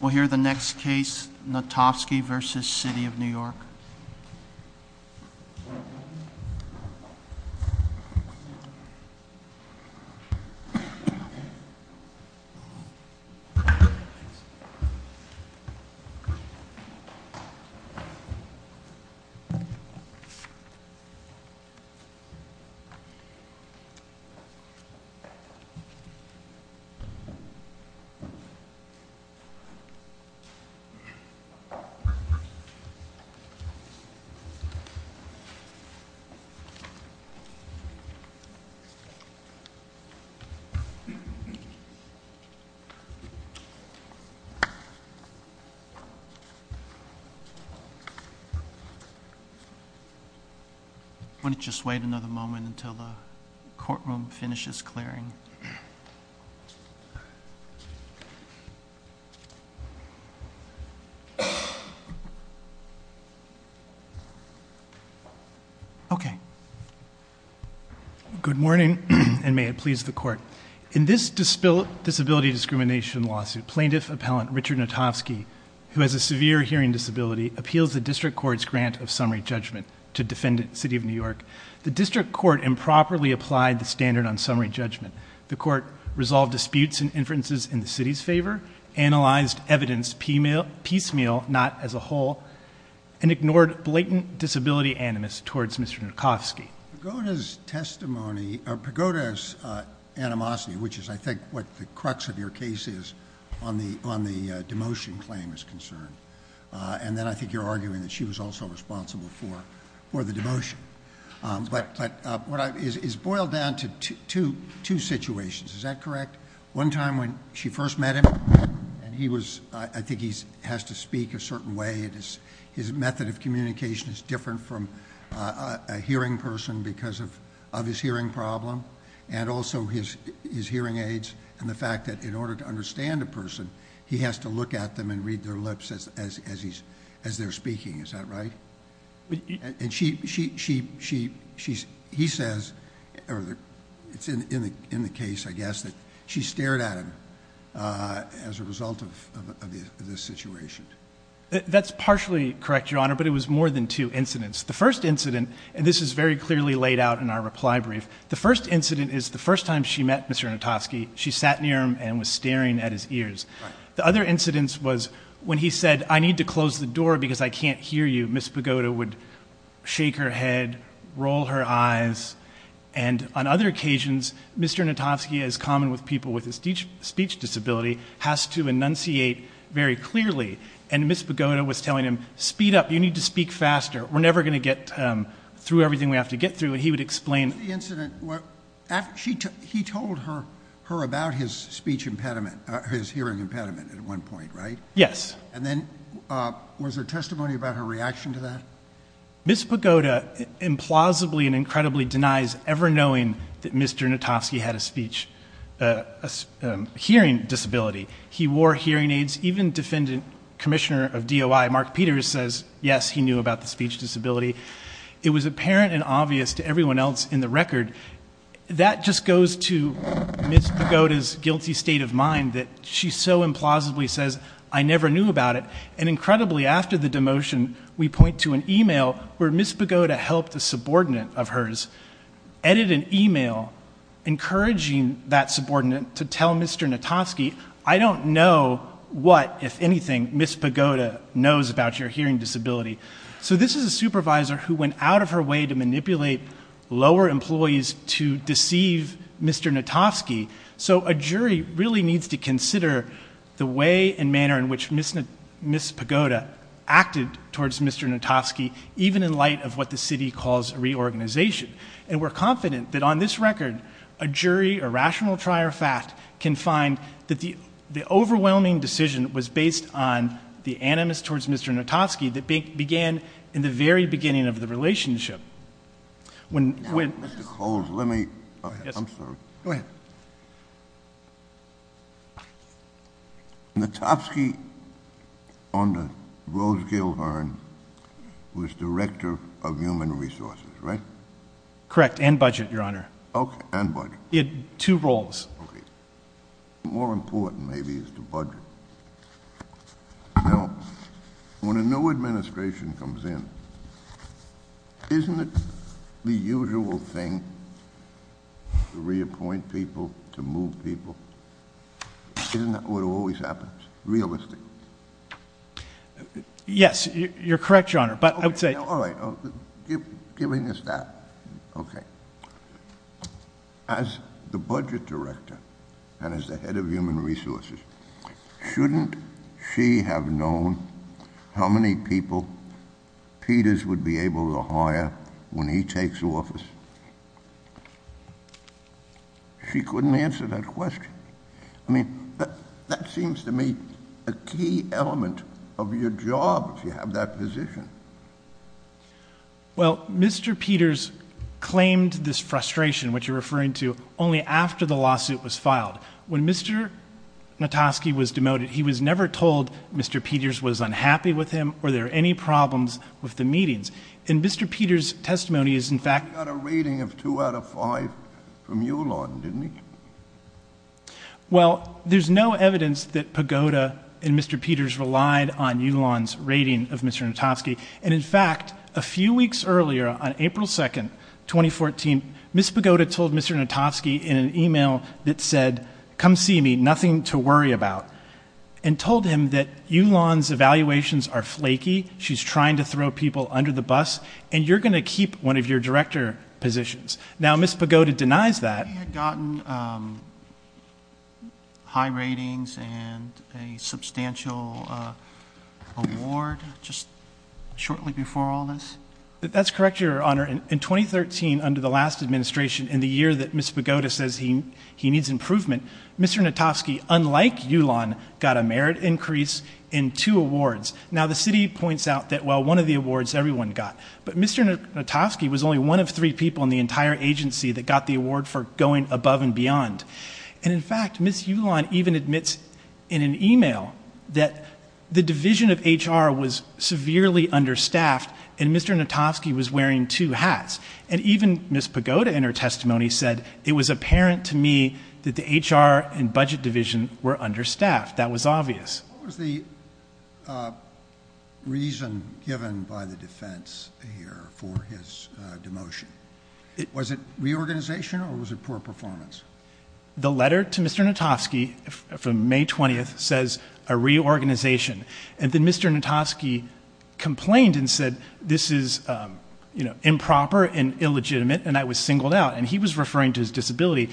We'll hear the next case, Natofsky v. City of New York. Why don't you just wait another moment until the courtroom finishes clearing. Okay. Good morning, and may it please the court. In this disability discrimination lawsuit, plaintiff appellant Richard Natofsky, who has a severe hearing disability, appeals the district court's grant of summary judgment to defendant City of New York. The district court improperly applied the standard on summary judgment. The court resolved disputes and inferences in the city's favor, analyzed evidence piecemeal, not as a whole, and ignored blatant disability animus towards Mr. Natofsky. Pagoda's testimony, or Pagoda's animosity, which is I think what the crux of your case is on the demotion claim is concerned. And then I think you're arguing that she was also responsible for the demotion. But it's boiled down to two situations, is that correct? One time when she first met him, and I think he has to speak a certain way, his method of communication is different from a hearing person because of his hearing problem, and also his hearing aids, and the fact that in order to understand a person, he has to look at them and read their lips as they're speaking, is that right? And he says, it's in the case, I guess, that she stared at him as a result of this situation. That's partially correct, Your Honor, but it was more than two incidents. The first incident, and this is very clearly laid out in our reply brief, the first incident is the first time she met Mr. Natofsky, she sat near him and was staring at his ears. The other incident was when he said, I need to close the door because I can't hear you, Ms. Pagoda would shake her head, roll her eyes, and on other occasions, Mr. Natofsky, as common with people with a speech disability, has to enunciate very clearly, and Ms. Pagoda was telling him, speed up, you need to speak faster, we're never going to get through everything we have to get through, and he would explain. He told her about his speech impediment, his hearing impediment at one point, right? Yes. And then was there testimony about her reaction to that? Ms. Pagoda implausibly and incredibly denies ever knowing that Mr. Natofsky had a speech hearing disability. He wore hearing aids, even Defendant Commissioner of DOI Mark Peters says, yes, he knew about the speech disability. It was apparent and obvious to everyone else in the record. That just goes to Ms. Pagoda's guilty state of mind that she so implausibly says, I never knew about it, and incredibly, after the demotion, we point to an email where Ms. Pagoda helped a subordinate of hers edit an email encouraging that subordinate to tell Mr. Natofsky, I don't know what, if anything, Ms. Pagoda knows about your hearing disability. So this is a supervisor who went out of her way to manipulate lower employees to deceive Mr. Natofsky, so a jury really needs to consider the way and manner in which Ms. Pagoda acted towards Mr. Natofsky, even in light of what the city calls reorganization. And we're confident that on this record, a jury, a rational trier of fact, can find that the overwhelming decision was based on the animus towards Mr. Natofsky that began in the very beginning of the relationship. When Mr. Coles, let me, I'm sorry, go ahead, Natofsky on the Rose Gill Hearn was director of human resources, right? Correct. And budget, your honor. Okay. And budget. He had two roles. Yes. Okay. More important, maybe, is the budget. Now, when a new administration comes in, isn't it the usual thing to reappoint people, to move people? Isn't that what always happens? Realistically? Yes. You're correct, your honor, but I would say. All right. Giving us that. Okay. As the budget director and as the head of human resources, shouldn't she have known how many people Peters would be able to hire when he takes office? She couldn't answer that question. I mean, that seems to me a key element of your job, to have that position. Well, Mr. Peters claimed this frustration, which you're referring to, only after the lawsuit was filed. When Mr. Natofsky was demoted, he was never told Mr. Peters was unhappy with him or there were any problems with the meetings. And Mr. Peters' testimony is, in fact- I got a rating of two out of five from Yulon, didn't I? Well, there's no evidence that Pagoda and Mr. Peters relied on Yulon's rating of Mr. Natofsky, and in fact, a few weeks earlier, on April 2nd, 2014, Ms. Pagoda told Mr. Natofsky in an email that said, come see me, nothing to worry about, and told him that Yulon's evaluations are flaky, she's trying to throw people under the bus, and you're going to keep one of your director positions. Now, Ms. Pagoda denies that. Had he gotten high ratings and a substantial award just shortly before all this? That's correct, Your Honor. In 2013, under the last administration, in the year that Ms. Pagoda says he needs improvement, Mr. Natofsky, unlike Yulon, got a merit increase in two awards. Now, the city points out that, well, one of the awards everyone got, but Mr. Natofsky was only one of three people in the entire agency that got the award for going above and beyond, and in fact, Ms. Yulon even admits in an email that the division of HR was severely understaffed, and Mr. Natofsky was wearing two hats, and even Ms. Pagoda in her testimony said, it was apparent to me that the HR and budget division were understaffed, that was obvious. What was the reason given by the defense here for his demotion? Was it reorganization or was it poor performance? The letter to Mr. Natofsky from May 20th says a reorganization, and then Mr. Natofsky complained and said, this is improper and illegitimate, and I was singled out, and he was referring to his disability,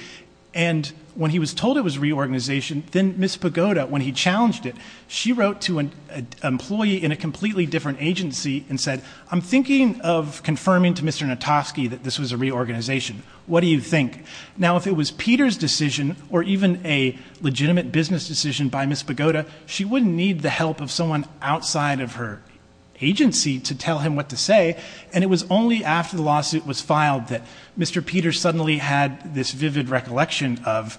and when he was told it was reorganization, then Ms. Pagoda, when he challenged it, she wrote to an employee in a completely different agency and said, I'm thinking of confirming to Mr. Natofsky that this was a reorganization. What do you think? Now, if it was Peter's decision or even a legitimate business decision by Ms. Pagoda, she wouldn't need the help of someone outside of her agency to tell him what to say, and it was only after the lawsuit was filed that Mr. Peter suddenly had this vivid recollection of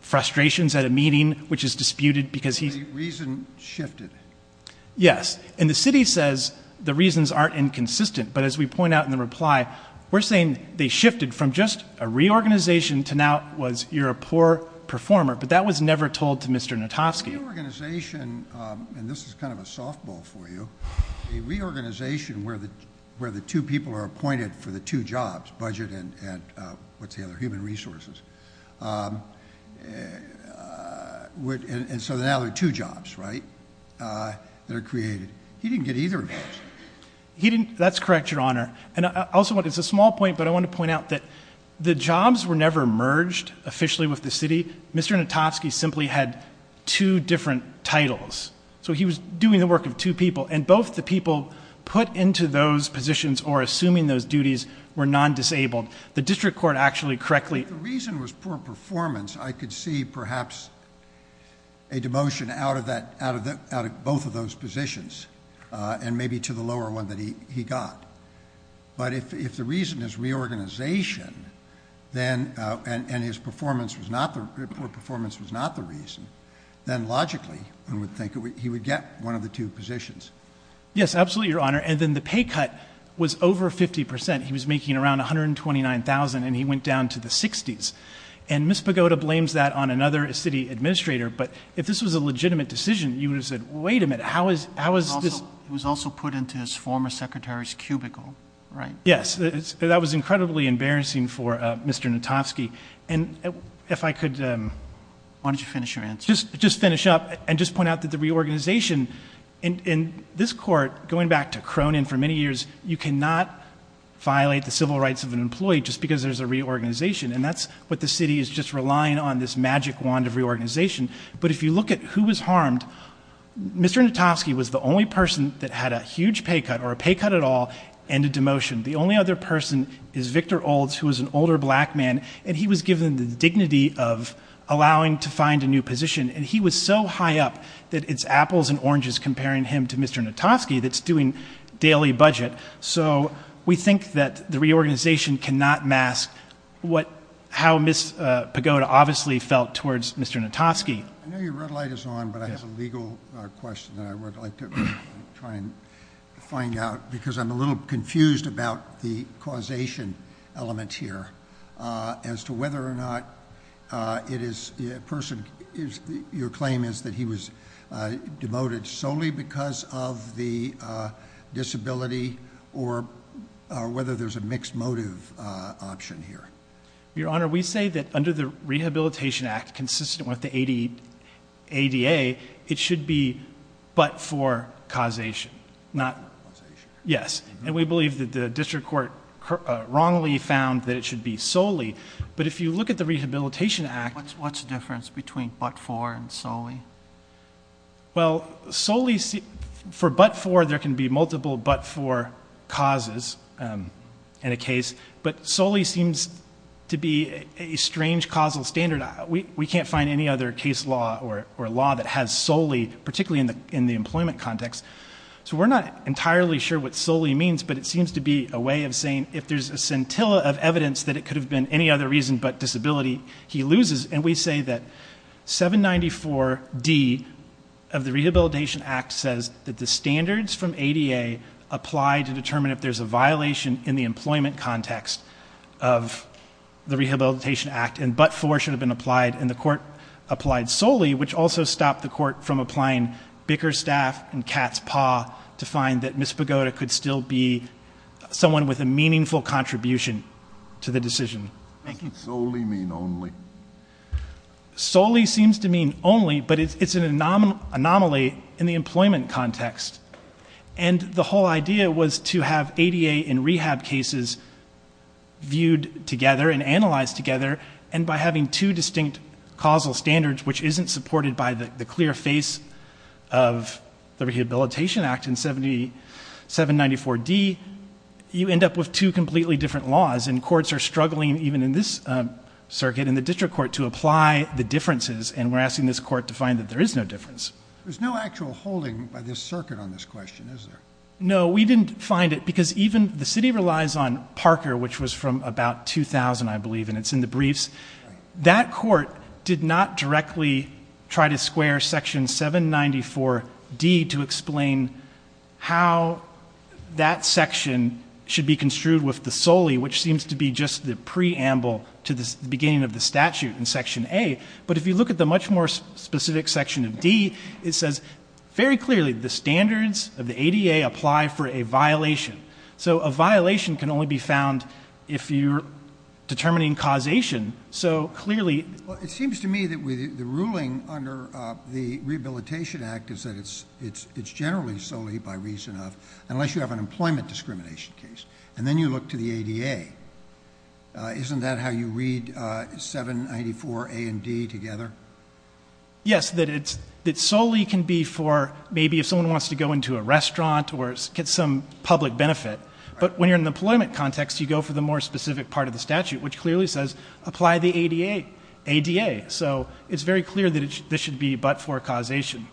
frustrations at a meeting, which is disputed because he's... The reason shifted. Yes, and the city says the reasons aren't inconsistent, but as we point out in the reply, we're saying they shifted from just a reorganization to now was you're a poor performer, but that was never told to Mr. Natofsky. A reorganization, and this is kind of a softball for you, a reorganization where the two people who were appointed for the two jobs, budget and what's the other, human resources, and so now there are two jobs, right, that are created. He didn't get either of those. He didn't. That's correct, Your Honor, and I also want... It's a small point, but I want to point out that the jobs were never merged officially with the city. Mr. Natofsky simply had two different titles, so he was doing the work of two people, and both the people put into those positions or assuming those duties were non-disabled. The district court actually correctly... If the reason was poor performance, I could see perhaps a demotion out of both of those positions, and maybe to the lower one that he got, but if the reason is reorganization and his poor performance was not the reason, then logically one would think he would get one of the two positions. Yes, absolutely, Your Honor, and then the pay cut was over 50%. He was making around $129,000, and he went down to the 60s, and Ms. Pagoda blames that on another city administrator, but if this was a legitimate decision, you would have said, wait a minute, how is this... It was also put into his former secretary's cubicle, right? Yes, that was incredibly embarrassing for Mr. Natofsky, and if I could... Why don't you finish your answer? Just finish up and just point out that the reorganization in this court, going back to Cronin for many years, you cannot violate the civil rights of an employee just because there's a reorganization, and that's what the city is just relying on, this magic wand of reorganization, but if you look at who was harmed, Mr. Natofsky was the only person that had a huge pay cut or a pay cut at all and a demotion. The only other person is Victor Olds, who was an older black man, and he was given the reorganization, and he was so high up that it's apples and oranges comparing him to Mr. Natofsky that's doing daily budget, so we think that the reorganization cannot mask how Ms. Pagoda obviously felt towards Mr. Natofsky. I know your red light is on, but I have a legal question that I would like to try and find out, because I'm a little confused about the causation element here as to whether or not your claim is that he was demoted solely because of the disability or whether there's a mixed motive option here. Your Honor, we say that under the Rehabilitation Act, consistent with the ADA, it should be but for causation. Yes, and we believe that the district court wrongly found that it should be solely, but if you look at the Rehabilitation Act... What's the difference between but for and solely? Well, solely... For but for, there can be multiple but for causes in a case, but solely seems to be a strange causal standard. We can't find any other case law or law that has solely, particularly in the employment context, so we're not entirely sure what solely means, but it seems to be a way of saying if there's a scintilla of evidence that it could have been any other reason but disability, he loses, and we say that 794D of the Rehabilitation Act says that the standards from ADA apply to determine if there's a violation in the employment context of the Rehabilitation Act, and but for should have been applied, and the court applied solely, which also stopped the court from applying bicker staff and cat's paw to find that Miss Pagoda could still be someone with a meaningful contribution to the decision-making. Does solely mean only? Solely seems to mean only, but it's an anomaly in the employment context, and the whole idea was to have ADA and rehab cases viewed together and analyzed together, and by having two distinct causal standards, which isn't supported by the clear face of the Rehabilitation Act in 794D, you end up with two completely different laws, and courts are struggling, even in this circuit, in the district court, to apply the differences, and we're asking this court to find that there is no difference. There's no actual holding by this circuit on this question, is there? No, we didn't find it, because even the city relies on Parker, which was from about 2000, I believe, and it's in the briefs. That court did not directly try to square Section 794D to explain how that section should be construed with the solely, which seems to be just the preamble to the beginning of the statute in Section A, but if you look at the much more specific Section of D, it says very clearly the standards of the ADA apply for a violation, so a violation can only be found if you're a causation, so clearly... Well, it seems to me that the ruling under the Rehabilitation Act is that it's generally solely by reason of, unless you have an employment discrimination case, and then you look to the ADA. Isn't that how you read 794A and D together? Yes, that it's solely can be for maybe if someone wants to go into a restaurant or get some public benefit, but when you're in the employment context, you go for the more specific part of the statute, which clearly says apply the ADA. So it's very clear that this should be but for causation.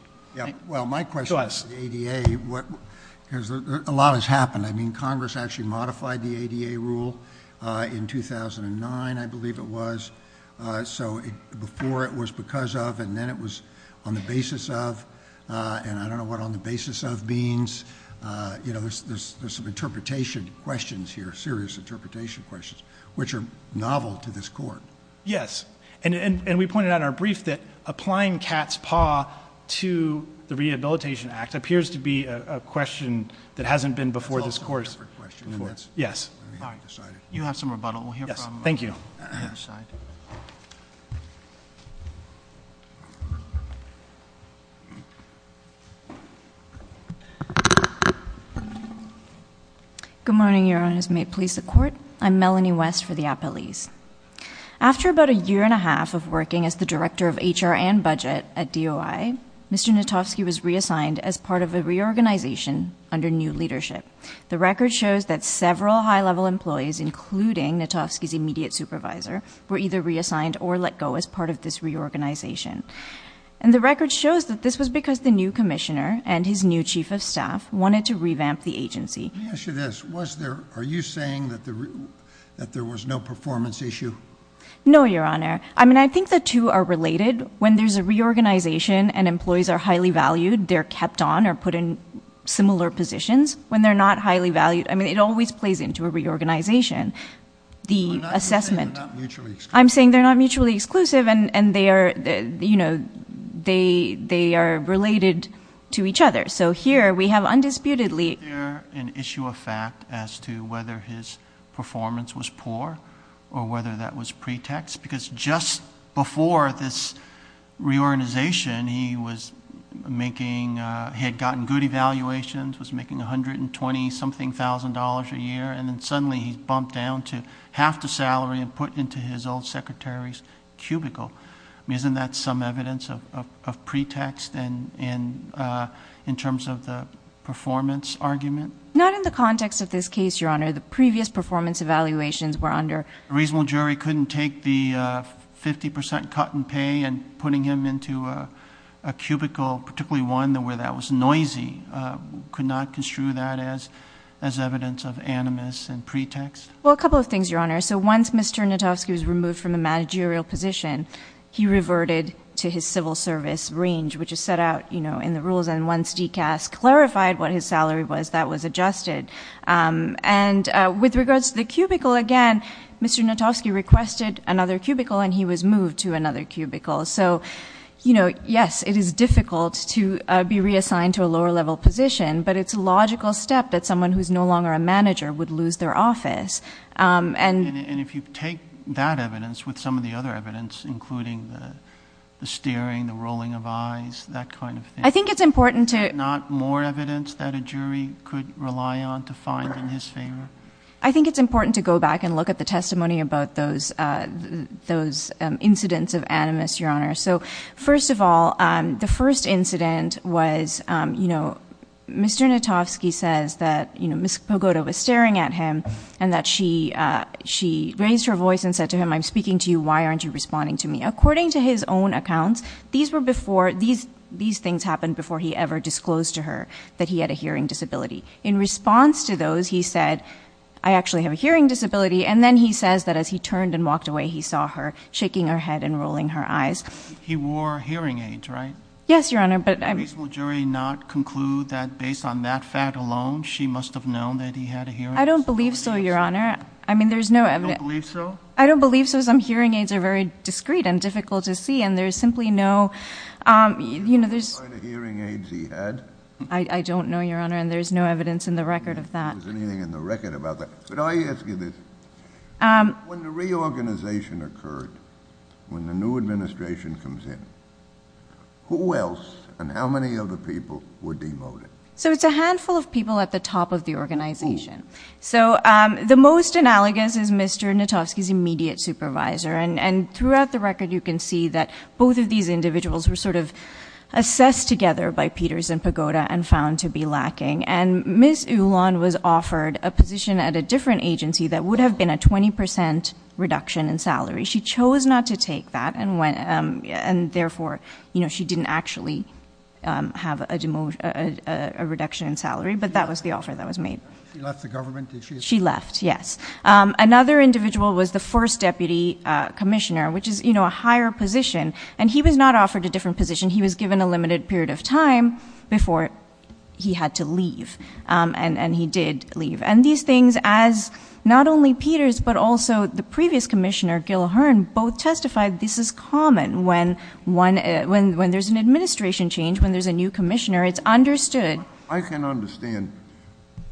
Well, my question is the ADA. A lot has happened. I mean, Congress actually modified the ADA rule in 2009, I believe it was, so before it was because of and then it was on the basis of, and I don't know what on the basis of means. There's some interpretation questions here, serious interpretation questions, which are novel to this court. Yes, and we pointed out in our brief that applying cat's paw to the Rehabilitation Act appears to be a question that hasn't been before this course. That's a whole different question. Yes. Let me decide it. You have some rebuttal. Yes, thank you. The other side. Good morning, Your Honors. May it please the Court. I'm Melanie West for the Appellees. After about a year and a half of working as the Director of HR and Budget at DOI, Mr. Natofsky was reassigned as part of a reorganization under new leadership. The record shows that several high-level employees, including Natofsky's immediate supervisor, were either reassigned or let go as part of this reorganization. And the record shows that this was because the new commissioner and his new chief of staff wanted to revamp the agency. Let me ask you this. Are you saying that there was no performance issue? No, Your Honor. I mean, I think the two are related. When there's a reorganization and employees are highly valued, they're kept on or put in similar positions. When they're not highly valued, I mean, it always plays into a reorganization. I'm not saying they're not mutually exclusive. And they are related to each other. So here we have undisputedly. Is there an issue of fact as to whether his performance was poor or whether that was pretext? Because just before this reorganization, he had gotten good evaluations, was making $120,000-something a year, and then suddenly he's bumped down to half the salary and put into his old secretary's cubicle. I mean, isn't that some evidence of pretext in terms of the performance argument? Not in the context of this case, Your Honor. The previous performance evaluations were under. A reasonable jury couldn't take the 50% cut in pay and putting him into a cubicle, particularly one where that was noisy. Could not construe that as evidence of animus and pretext? Well, a couple of things, Your Honor. So once Mr. Notofsky was removed from the managerial position, he reverted to his civil service range, which is set out in the rules. And once DCAS clarified what his salary was, that was adjusted. And with regards to the cubicle, again, Mr. Notofsky requested another cubicle, and he was moved to another cubicle. So, you know, yes, it is difficult to be reassigned to a lower-level position, but it's a logical step that someone who's no longer a manager would lose their office. And if you take that evidence with some of the other evidence, including the staring, the rolling of eyes, that kind of thing, is there not more evidence that a jury could rely on to find in his favor? I think it's important to go back and look at the testimony about those incidents of animus, Your Honor. So, first of all, the first incident was, you know, Mr. Notofsky says that, you know, Ms. Pogoda was staring at him and that she raised her voice and said to him, I'm speaking to you, why aren't you responding to me? According to his own accounts, these things happened before he ever disclosed to her that he had a hearing disability. In response to those, he said, I actually have a hearing disability, and then he says that as he turned and walked away, he saw her shaking her head and rolling her eyes. He wore hearing aids, right? Yes, Your Honor, but I'm... Will the jury not conclude that based on that fact alone, she must have known that he had a hearing disability? I don't believe so, Your Honor. I mean, there's no evidence... You don't believe so? I don't believe so. Some hearing aids are very discreet and difficult to see, and there's simply no, you know, there's... What kind of hearing aids he had? I don't know, Your Honor, and there's no evidence in the record of that. There's nothing in the record about that. But I ask you this, when the reorganization occurred, when the new administration comes in, who else and how many other people were demoted? So it's a handful of people at the top of the organization. So the most analogous is Mr. Notovsky's immediate supervisor, and throughout the record you can see that both of these individuals were sort of assessed together by Peters and Pagoda and found to be lacking. And Ms. Ulan was offered a position at a different agency that would have been a 20% reduction in salary. She chose not to take that, and therefore, you know, she didn't actually have a reduction in salary, but that was the offer that was made. She left the government? She left, yes. Another individual was the first deputy commissioner, which is, you know, a higher position, and he was not offered a different position. He was given a limited period of time before he had to leave, and he did leave. And these things, as not only Peters but also the previous commissioner, Gil Hearn, both testified this is common when there's an administration change, when there's a new commissioner. It's understood. I can understand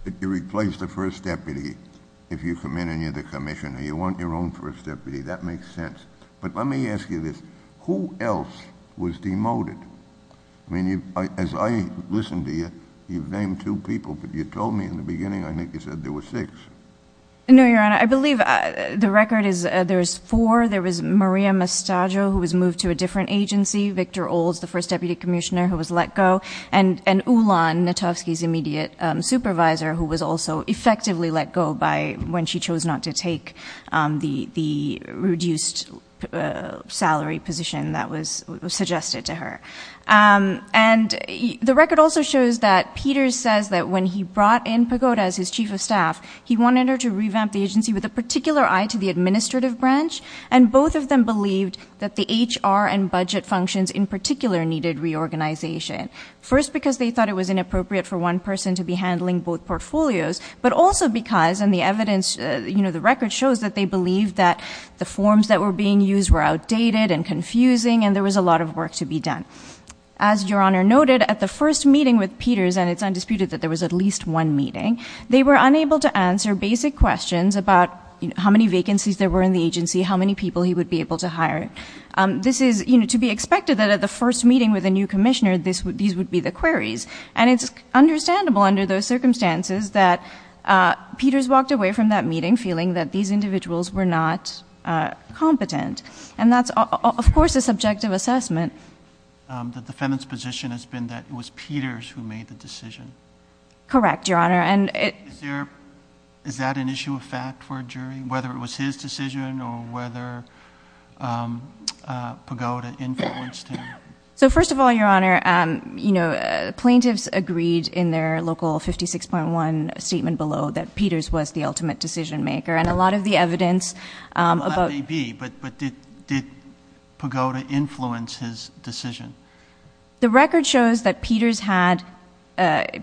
that you replace the first deputy if you come in and you're the commissioner. You want your own first deputy. That makes sense. But let me ask you this. Who else was demoted? I mean, as I listened to you, you've named two people, but you told me in the beginning I think you said there were six. No, Your Honor. I believe the record is there was four. There was Maria Mastaggio, who was moved to a different agency, Victor Olds, the first deputy commissioner, who was let go, and Ulan Netovsky's immediate supervisor, who was also effectively let go when she chose not to take the reduced salary position that was suggested to her. And the record also shows that Peters says that when he brought in Pagoda as his chief of staff, he wanted her to revamp the agency with a particular eye to the administrative branch, and both of them believed that the HR and budget functions in particular needed reorganization, first because they thought it was inappropriate for one person to be handling both portfolios, but also because, and the evidence, you know, the record shows that they believed that the forms that were being used were outdated and confusing and there was a lot of work to be done. As Your Honor noted, at the first meeting with Peters, and it's undisputed that there was at least one meeting, they were unable to answer basic questions about how many vacancies there were in the agency, how many people he would be able to hire. This is, you know, to be expected that at the first meeting with a new commissioner, these would be the queries. And it's understandable under those circumstances that Peters walked away from that meeting feeling that these individuals were not competent. And that's, of course, a subjective assessment. The defendant's position has been that it was Peters who made the decision. Correct, Your Honor. Is that an issue of fact for a jury, whether it was his decision or whether Pagoda influenced him? So first of all, Your Honor, you know, plaintiffs agreed in their local 56.1 statement below that Peters was the ultimate decision maker, and a lot of the evidence about... Well, that may be, but did Pagoda influence his decision? The record shows that Peters had,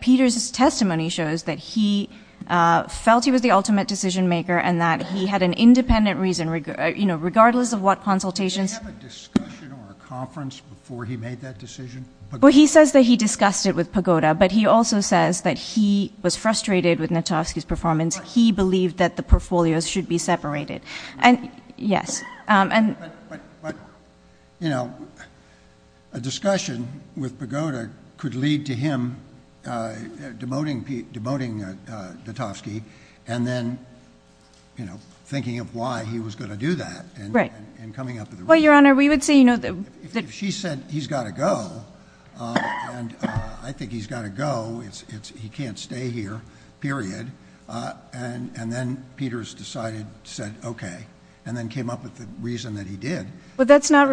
Peters' testimony shows that he felt he was the ultimate decision maker and that he had an independent reason, you know, regardless of what consultations... Did he have a discussion or a conference before he made that decision? Well, he says that he discussed it with Pagoda, but he also says that he was frustrated with Natovsky's performance. He believed that the portfolios should be separated. And, yes, and... But, you know, a discussion with Pagoda could lead to him demoting Natovsky and then, you know, thinking of why he was going to do that and coming up with a reason. Well, Your Honor, we would say, you know... If she said, he's got to go, and I think he's got to go, he can't stay here, period, and then Peters decided, said, okay, and then came up with the reason that he did... But that's not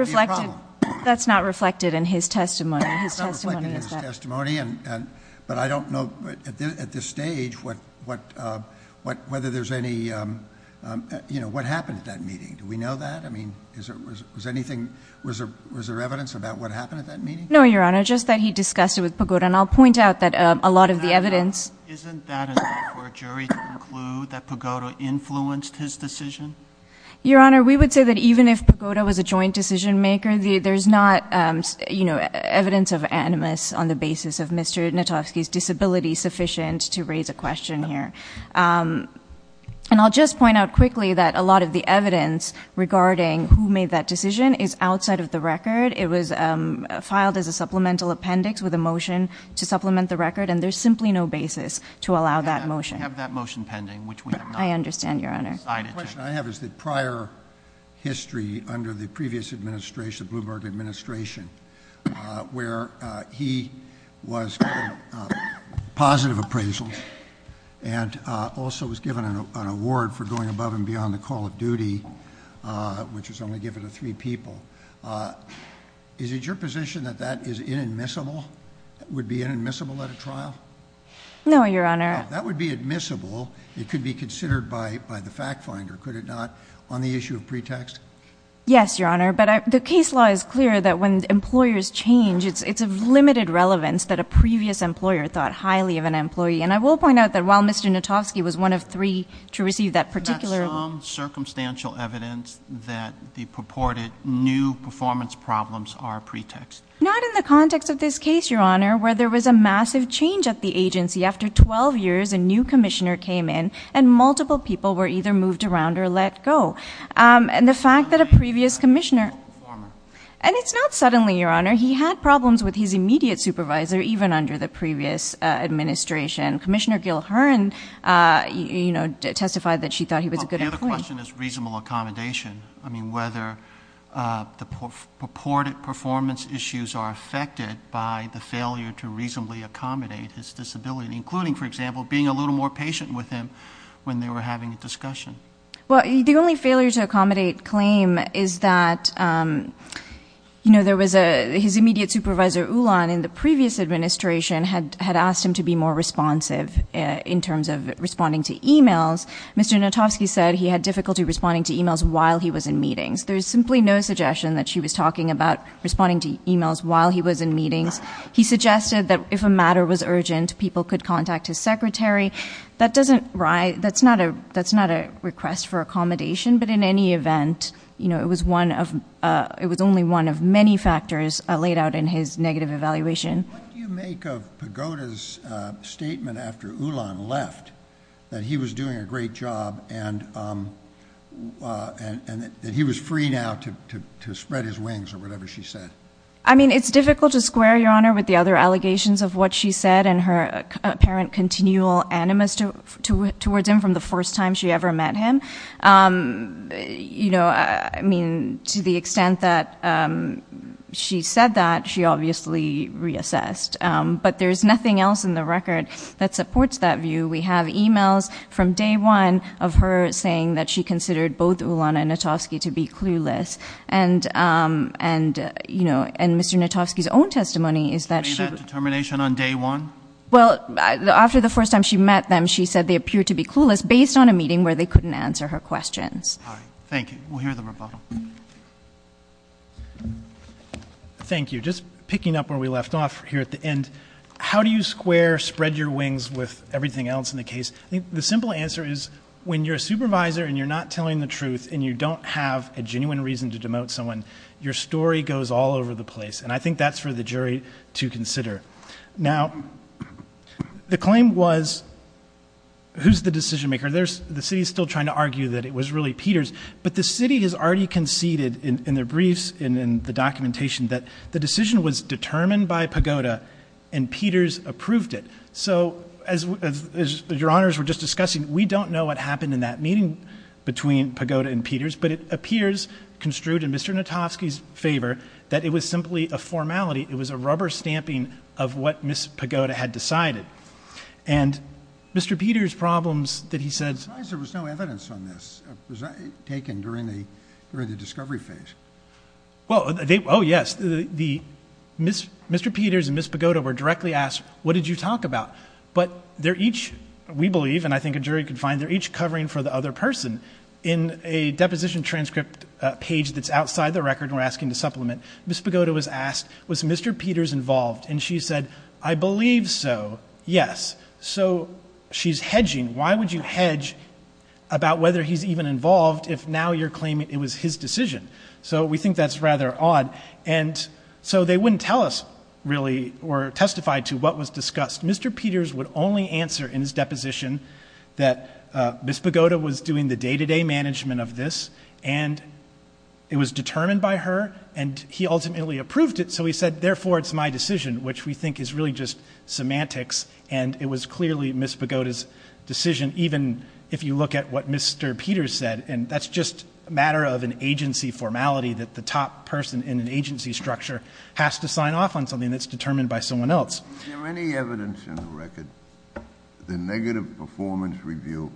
reflected in his testimony. But I don't know at this stage whether there's any, you know, what happened at that meeting. Do we know that? I mean, was there evidence about what happened at that meeting? No, Your Honor, just that he discussed it with Pagoda. And I'll point out that a lot of the evidence... Isn't that enough for a jury to conclude that Pagoda influenced his decision? Your Honor, we would say that even if Pagoda was a joint decision-maker, there's not, you know, evidence of animus on the basis of Mr. Natovsky's disability sufficient to raise a question here. And I'll just point out quickly that a lot of the evidence regarding who made that decision is outside of the record. It was filed as a supplemental appendix with a motion to supplement the record, and there's simply no basis to allow that motion. We have that motion pending, which we have not decided to... I understand, Your Honor. The question I have is that prior history under the previous administration, the Bloomberg administration, where he was positive appraisals and also was given an award for going above and beyond the call of duty, which was only given to three people. Is it your position that that is inadmissible? That it would be inadmissible at a trial? No, Your Honor. If that would be admissible, it could be considered by the fact finder, could it not, on the issue of pretext? Yes, Your Honor, but the case law is clear that when employers change, it's of limited relevance that a previous employer thought highly of an employee. And I will point out that while Mr. Natovsky was one of three to receive that particular... the purported new performance problems are pretext. Not in the context of this case, Your Honor, where there was a massive change at the agency. After 12 years, a new commissioner came in, and multiple people were either moved around or let go. And the fact that a previous commissioner... And it's not suddenly, Your Honor. He had problems with his immediate supervisor, even under the previous administration. Commissioner Gilhern testified that she thought he was a good employee. The other question is reasonable accommodation. I mean, whether the purported performance issues are affected by the failure to reasonably accommodate his disability, including, for example, being a little more patient with him when they were having a discussion. Well, the only failure to accommodate claim is that, you know, there was a... his immediate supervisor, Ulan, in the previous administration had asked him to be more responsive in terms of responding to e-mails. Mr. Notovsky said he had difficulty responding to e-mails while he was in meetings. There is simply no suggestion that she was talking about responding to e-mails while he was in meetings. He suggested that if a matter was urgent, people could contact his secretary. That doesn't... that's not a request for accommodation, but in any event, you know, it was one of... it was only one of many factors laid out in his negative evaluation. What do you make of Pagoda's statement after Ulan left that he was doing a great job and that he was free now to spread his wings or whatever she said? I mean, it's difficult to square, Your Honor, with the other allegations of what she said and her apparent continual animus towards him from the first time she ever met him. You know, I mean, to the extent that she said that, she obviously reassessed. But there's nothing else in the record that supports that view. We have e-mails from day one of her saying that she considered both Ulan and Notovsky to be clueless. And, you know, in Mr. Notovsky's own testimony is that she... You made that determination on day one? Well, after the first time she met them, she said they appeared to be clueless based on a meeting where they couldn't answer her questions. All right. Thank you. We'll hear the rebuttal. Thank you. Just picking up where we left off here at the end, how do you square, spread your wings with everything else in the case? The simple answer is when you're a supervisor and you're not telling the truth and you don't have a genuine reason to demote someone, your story goes all over the place. And I think that's for the jury to consider. Now, the claim was who's the decision-maker? The city's still trying to argue that it was really Peters. But the city has already conceded in their briefs and in the documentation that the decision was determined by Pagoda and Peters approved it. So as Your Honors were just discussing, we don't know what happened in that meeting between Pagoda and Peters, but it appears construed in Mr. Notovsky's favor that it was simply a formality. It was a rubber stamping of what Ms. Pagoda had decided. And Mr. Peters' problems that he said— I'm surprised there was no evidence on this. It was taken during the discovery phase. Oh, yes. Mr. Peters and Ms. Pagoda were directly asked, what did you talk about? But they're each, we believe, and I think a jury can find, they're each covering for the other person. In a deposition transcript page that's outside the record and we're asking to supplement, Ms. Pagoda was asked, was Mr. Peters involved? And she said, I believe so, yes. So she's hedging. Why would you hedge about whether he's even involved if now you're claiming it was his decision? So we think that's rather odd. And so they wouldn't tell us really or testify to what was discussed. Mr. Peters would only answer in his deposition that Ms. Pagoda was doing the day-to-day management of this and it was determined by her and he ultimately approved it. So he said, therefore, it's my decision, which we think is really just semantics. And it was clearly Ms. Pagoda's decision, even if you look at what Mr. Peters said. And that's just a matter of an agency formality that the top person in an agency structure has to sign off on something that's determined by someone else. Is there any evidence in the record the negative performance review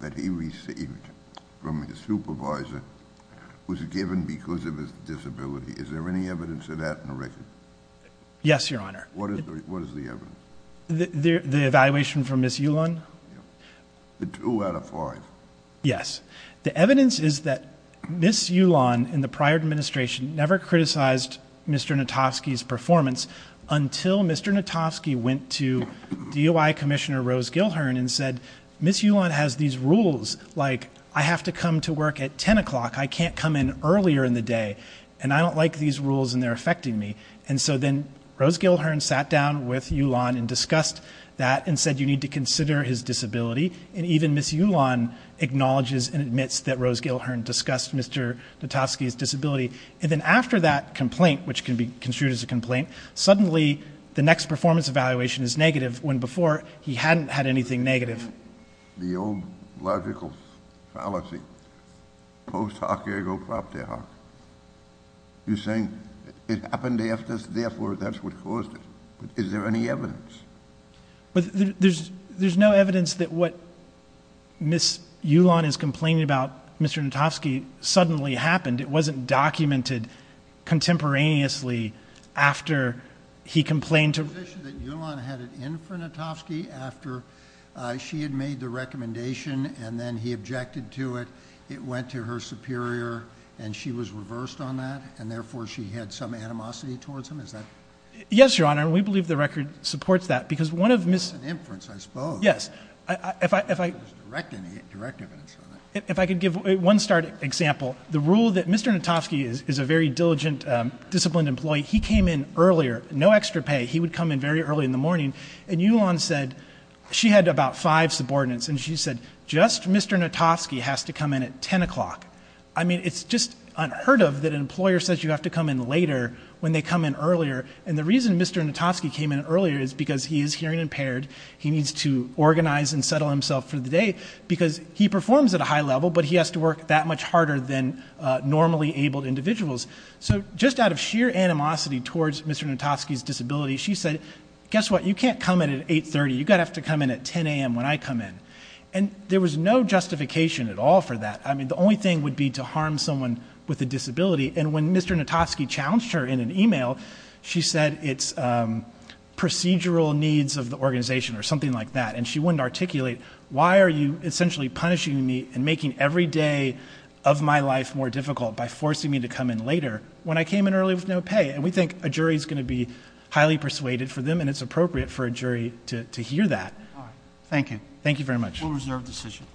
that he received from his supervisor was given because of his disability? Is there any evidence of that in the record? Yes, Your Honor. What is the evidence? The evaluation from Ms. Ulon? The two out of five. Yes. The evidence is that Ms. Ulon in the prior administration never criticized Mr. Notofsky's performance until Mr. Notofsky went to DOI Commissioner Rose Gilhern and said, Ms. Ulon has these rules, like I have to come to work at 10 o'clock, I can't come in earlier in the day, and I don't like these rules and they're affecting me. And so then Rose Gilhern sat down with Ulon and discussed that and said you need to consider his disability. And even Ms. Ulon acknowledges and admits that Rose Gilhern discussed Mr. Notofsky's disability. And then after that complaint, which can be construed as a complaint, suddenly the next performance evaluation is negative when before he hadn't had anything negative. The old logical fallacy, post hoc ergo propter hoc. You're saying it happened after, therefore that's what caused it. Is there any evidence? There's no evidence that what Ms. Ulon is complaining about Mr. Notofsky suddenly happened. It wasn't documented contemporaneously after he complained to her. Is it your position that Ulon had it in for Notofsky after she had made the recommendation and then he objected to it, it went to her superior and she was reversed on that and therefore she had some animosity towards him? Yes, Your Honor, and we believe the record supports that because one of Ms. It was an inference, I suppose. Yes, if I could give one start example. The rule that Mr. Notofsky is a very diligent, disciplined employee. He came in earlier, no extra pay. He would come in very early in the morning and Ulon said she had about five subordinates and she said just Mr. Notofsky has to come in at 10 o'clock. I mean it's just unheard of that an employer says you have to come in later when they come in earlier and the reason Mr. Notofsky came in earlier is because he is hearing impaired. He needs to organize and settle himself for the day because he performs at a high level but he has to work that much harder than normally abled individuals. So just out of sheer animosity towards Mr. Notofsky's disability, she said, guess what, you can't come in at 830, you've got to have to come in at 10 a.m. when I come in and there was no justification at all for that. I mean the only thing would be to harm someone with a disability and when Mr. Notofsky challenged her in an email, she said it's procedural needs of the organization or something like that and she wouldn't articulate why are you essentially punishing me and making every day of my life more difficult by forcing me to come in later when I came in early with no pay and we think a jury is going to be highly persuaded for them and it's appropriate for a jury to hear that. Thank you. Thank you very much. We'll reserve the session.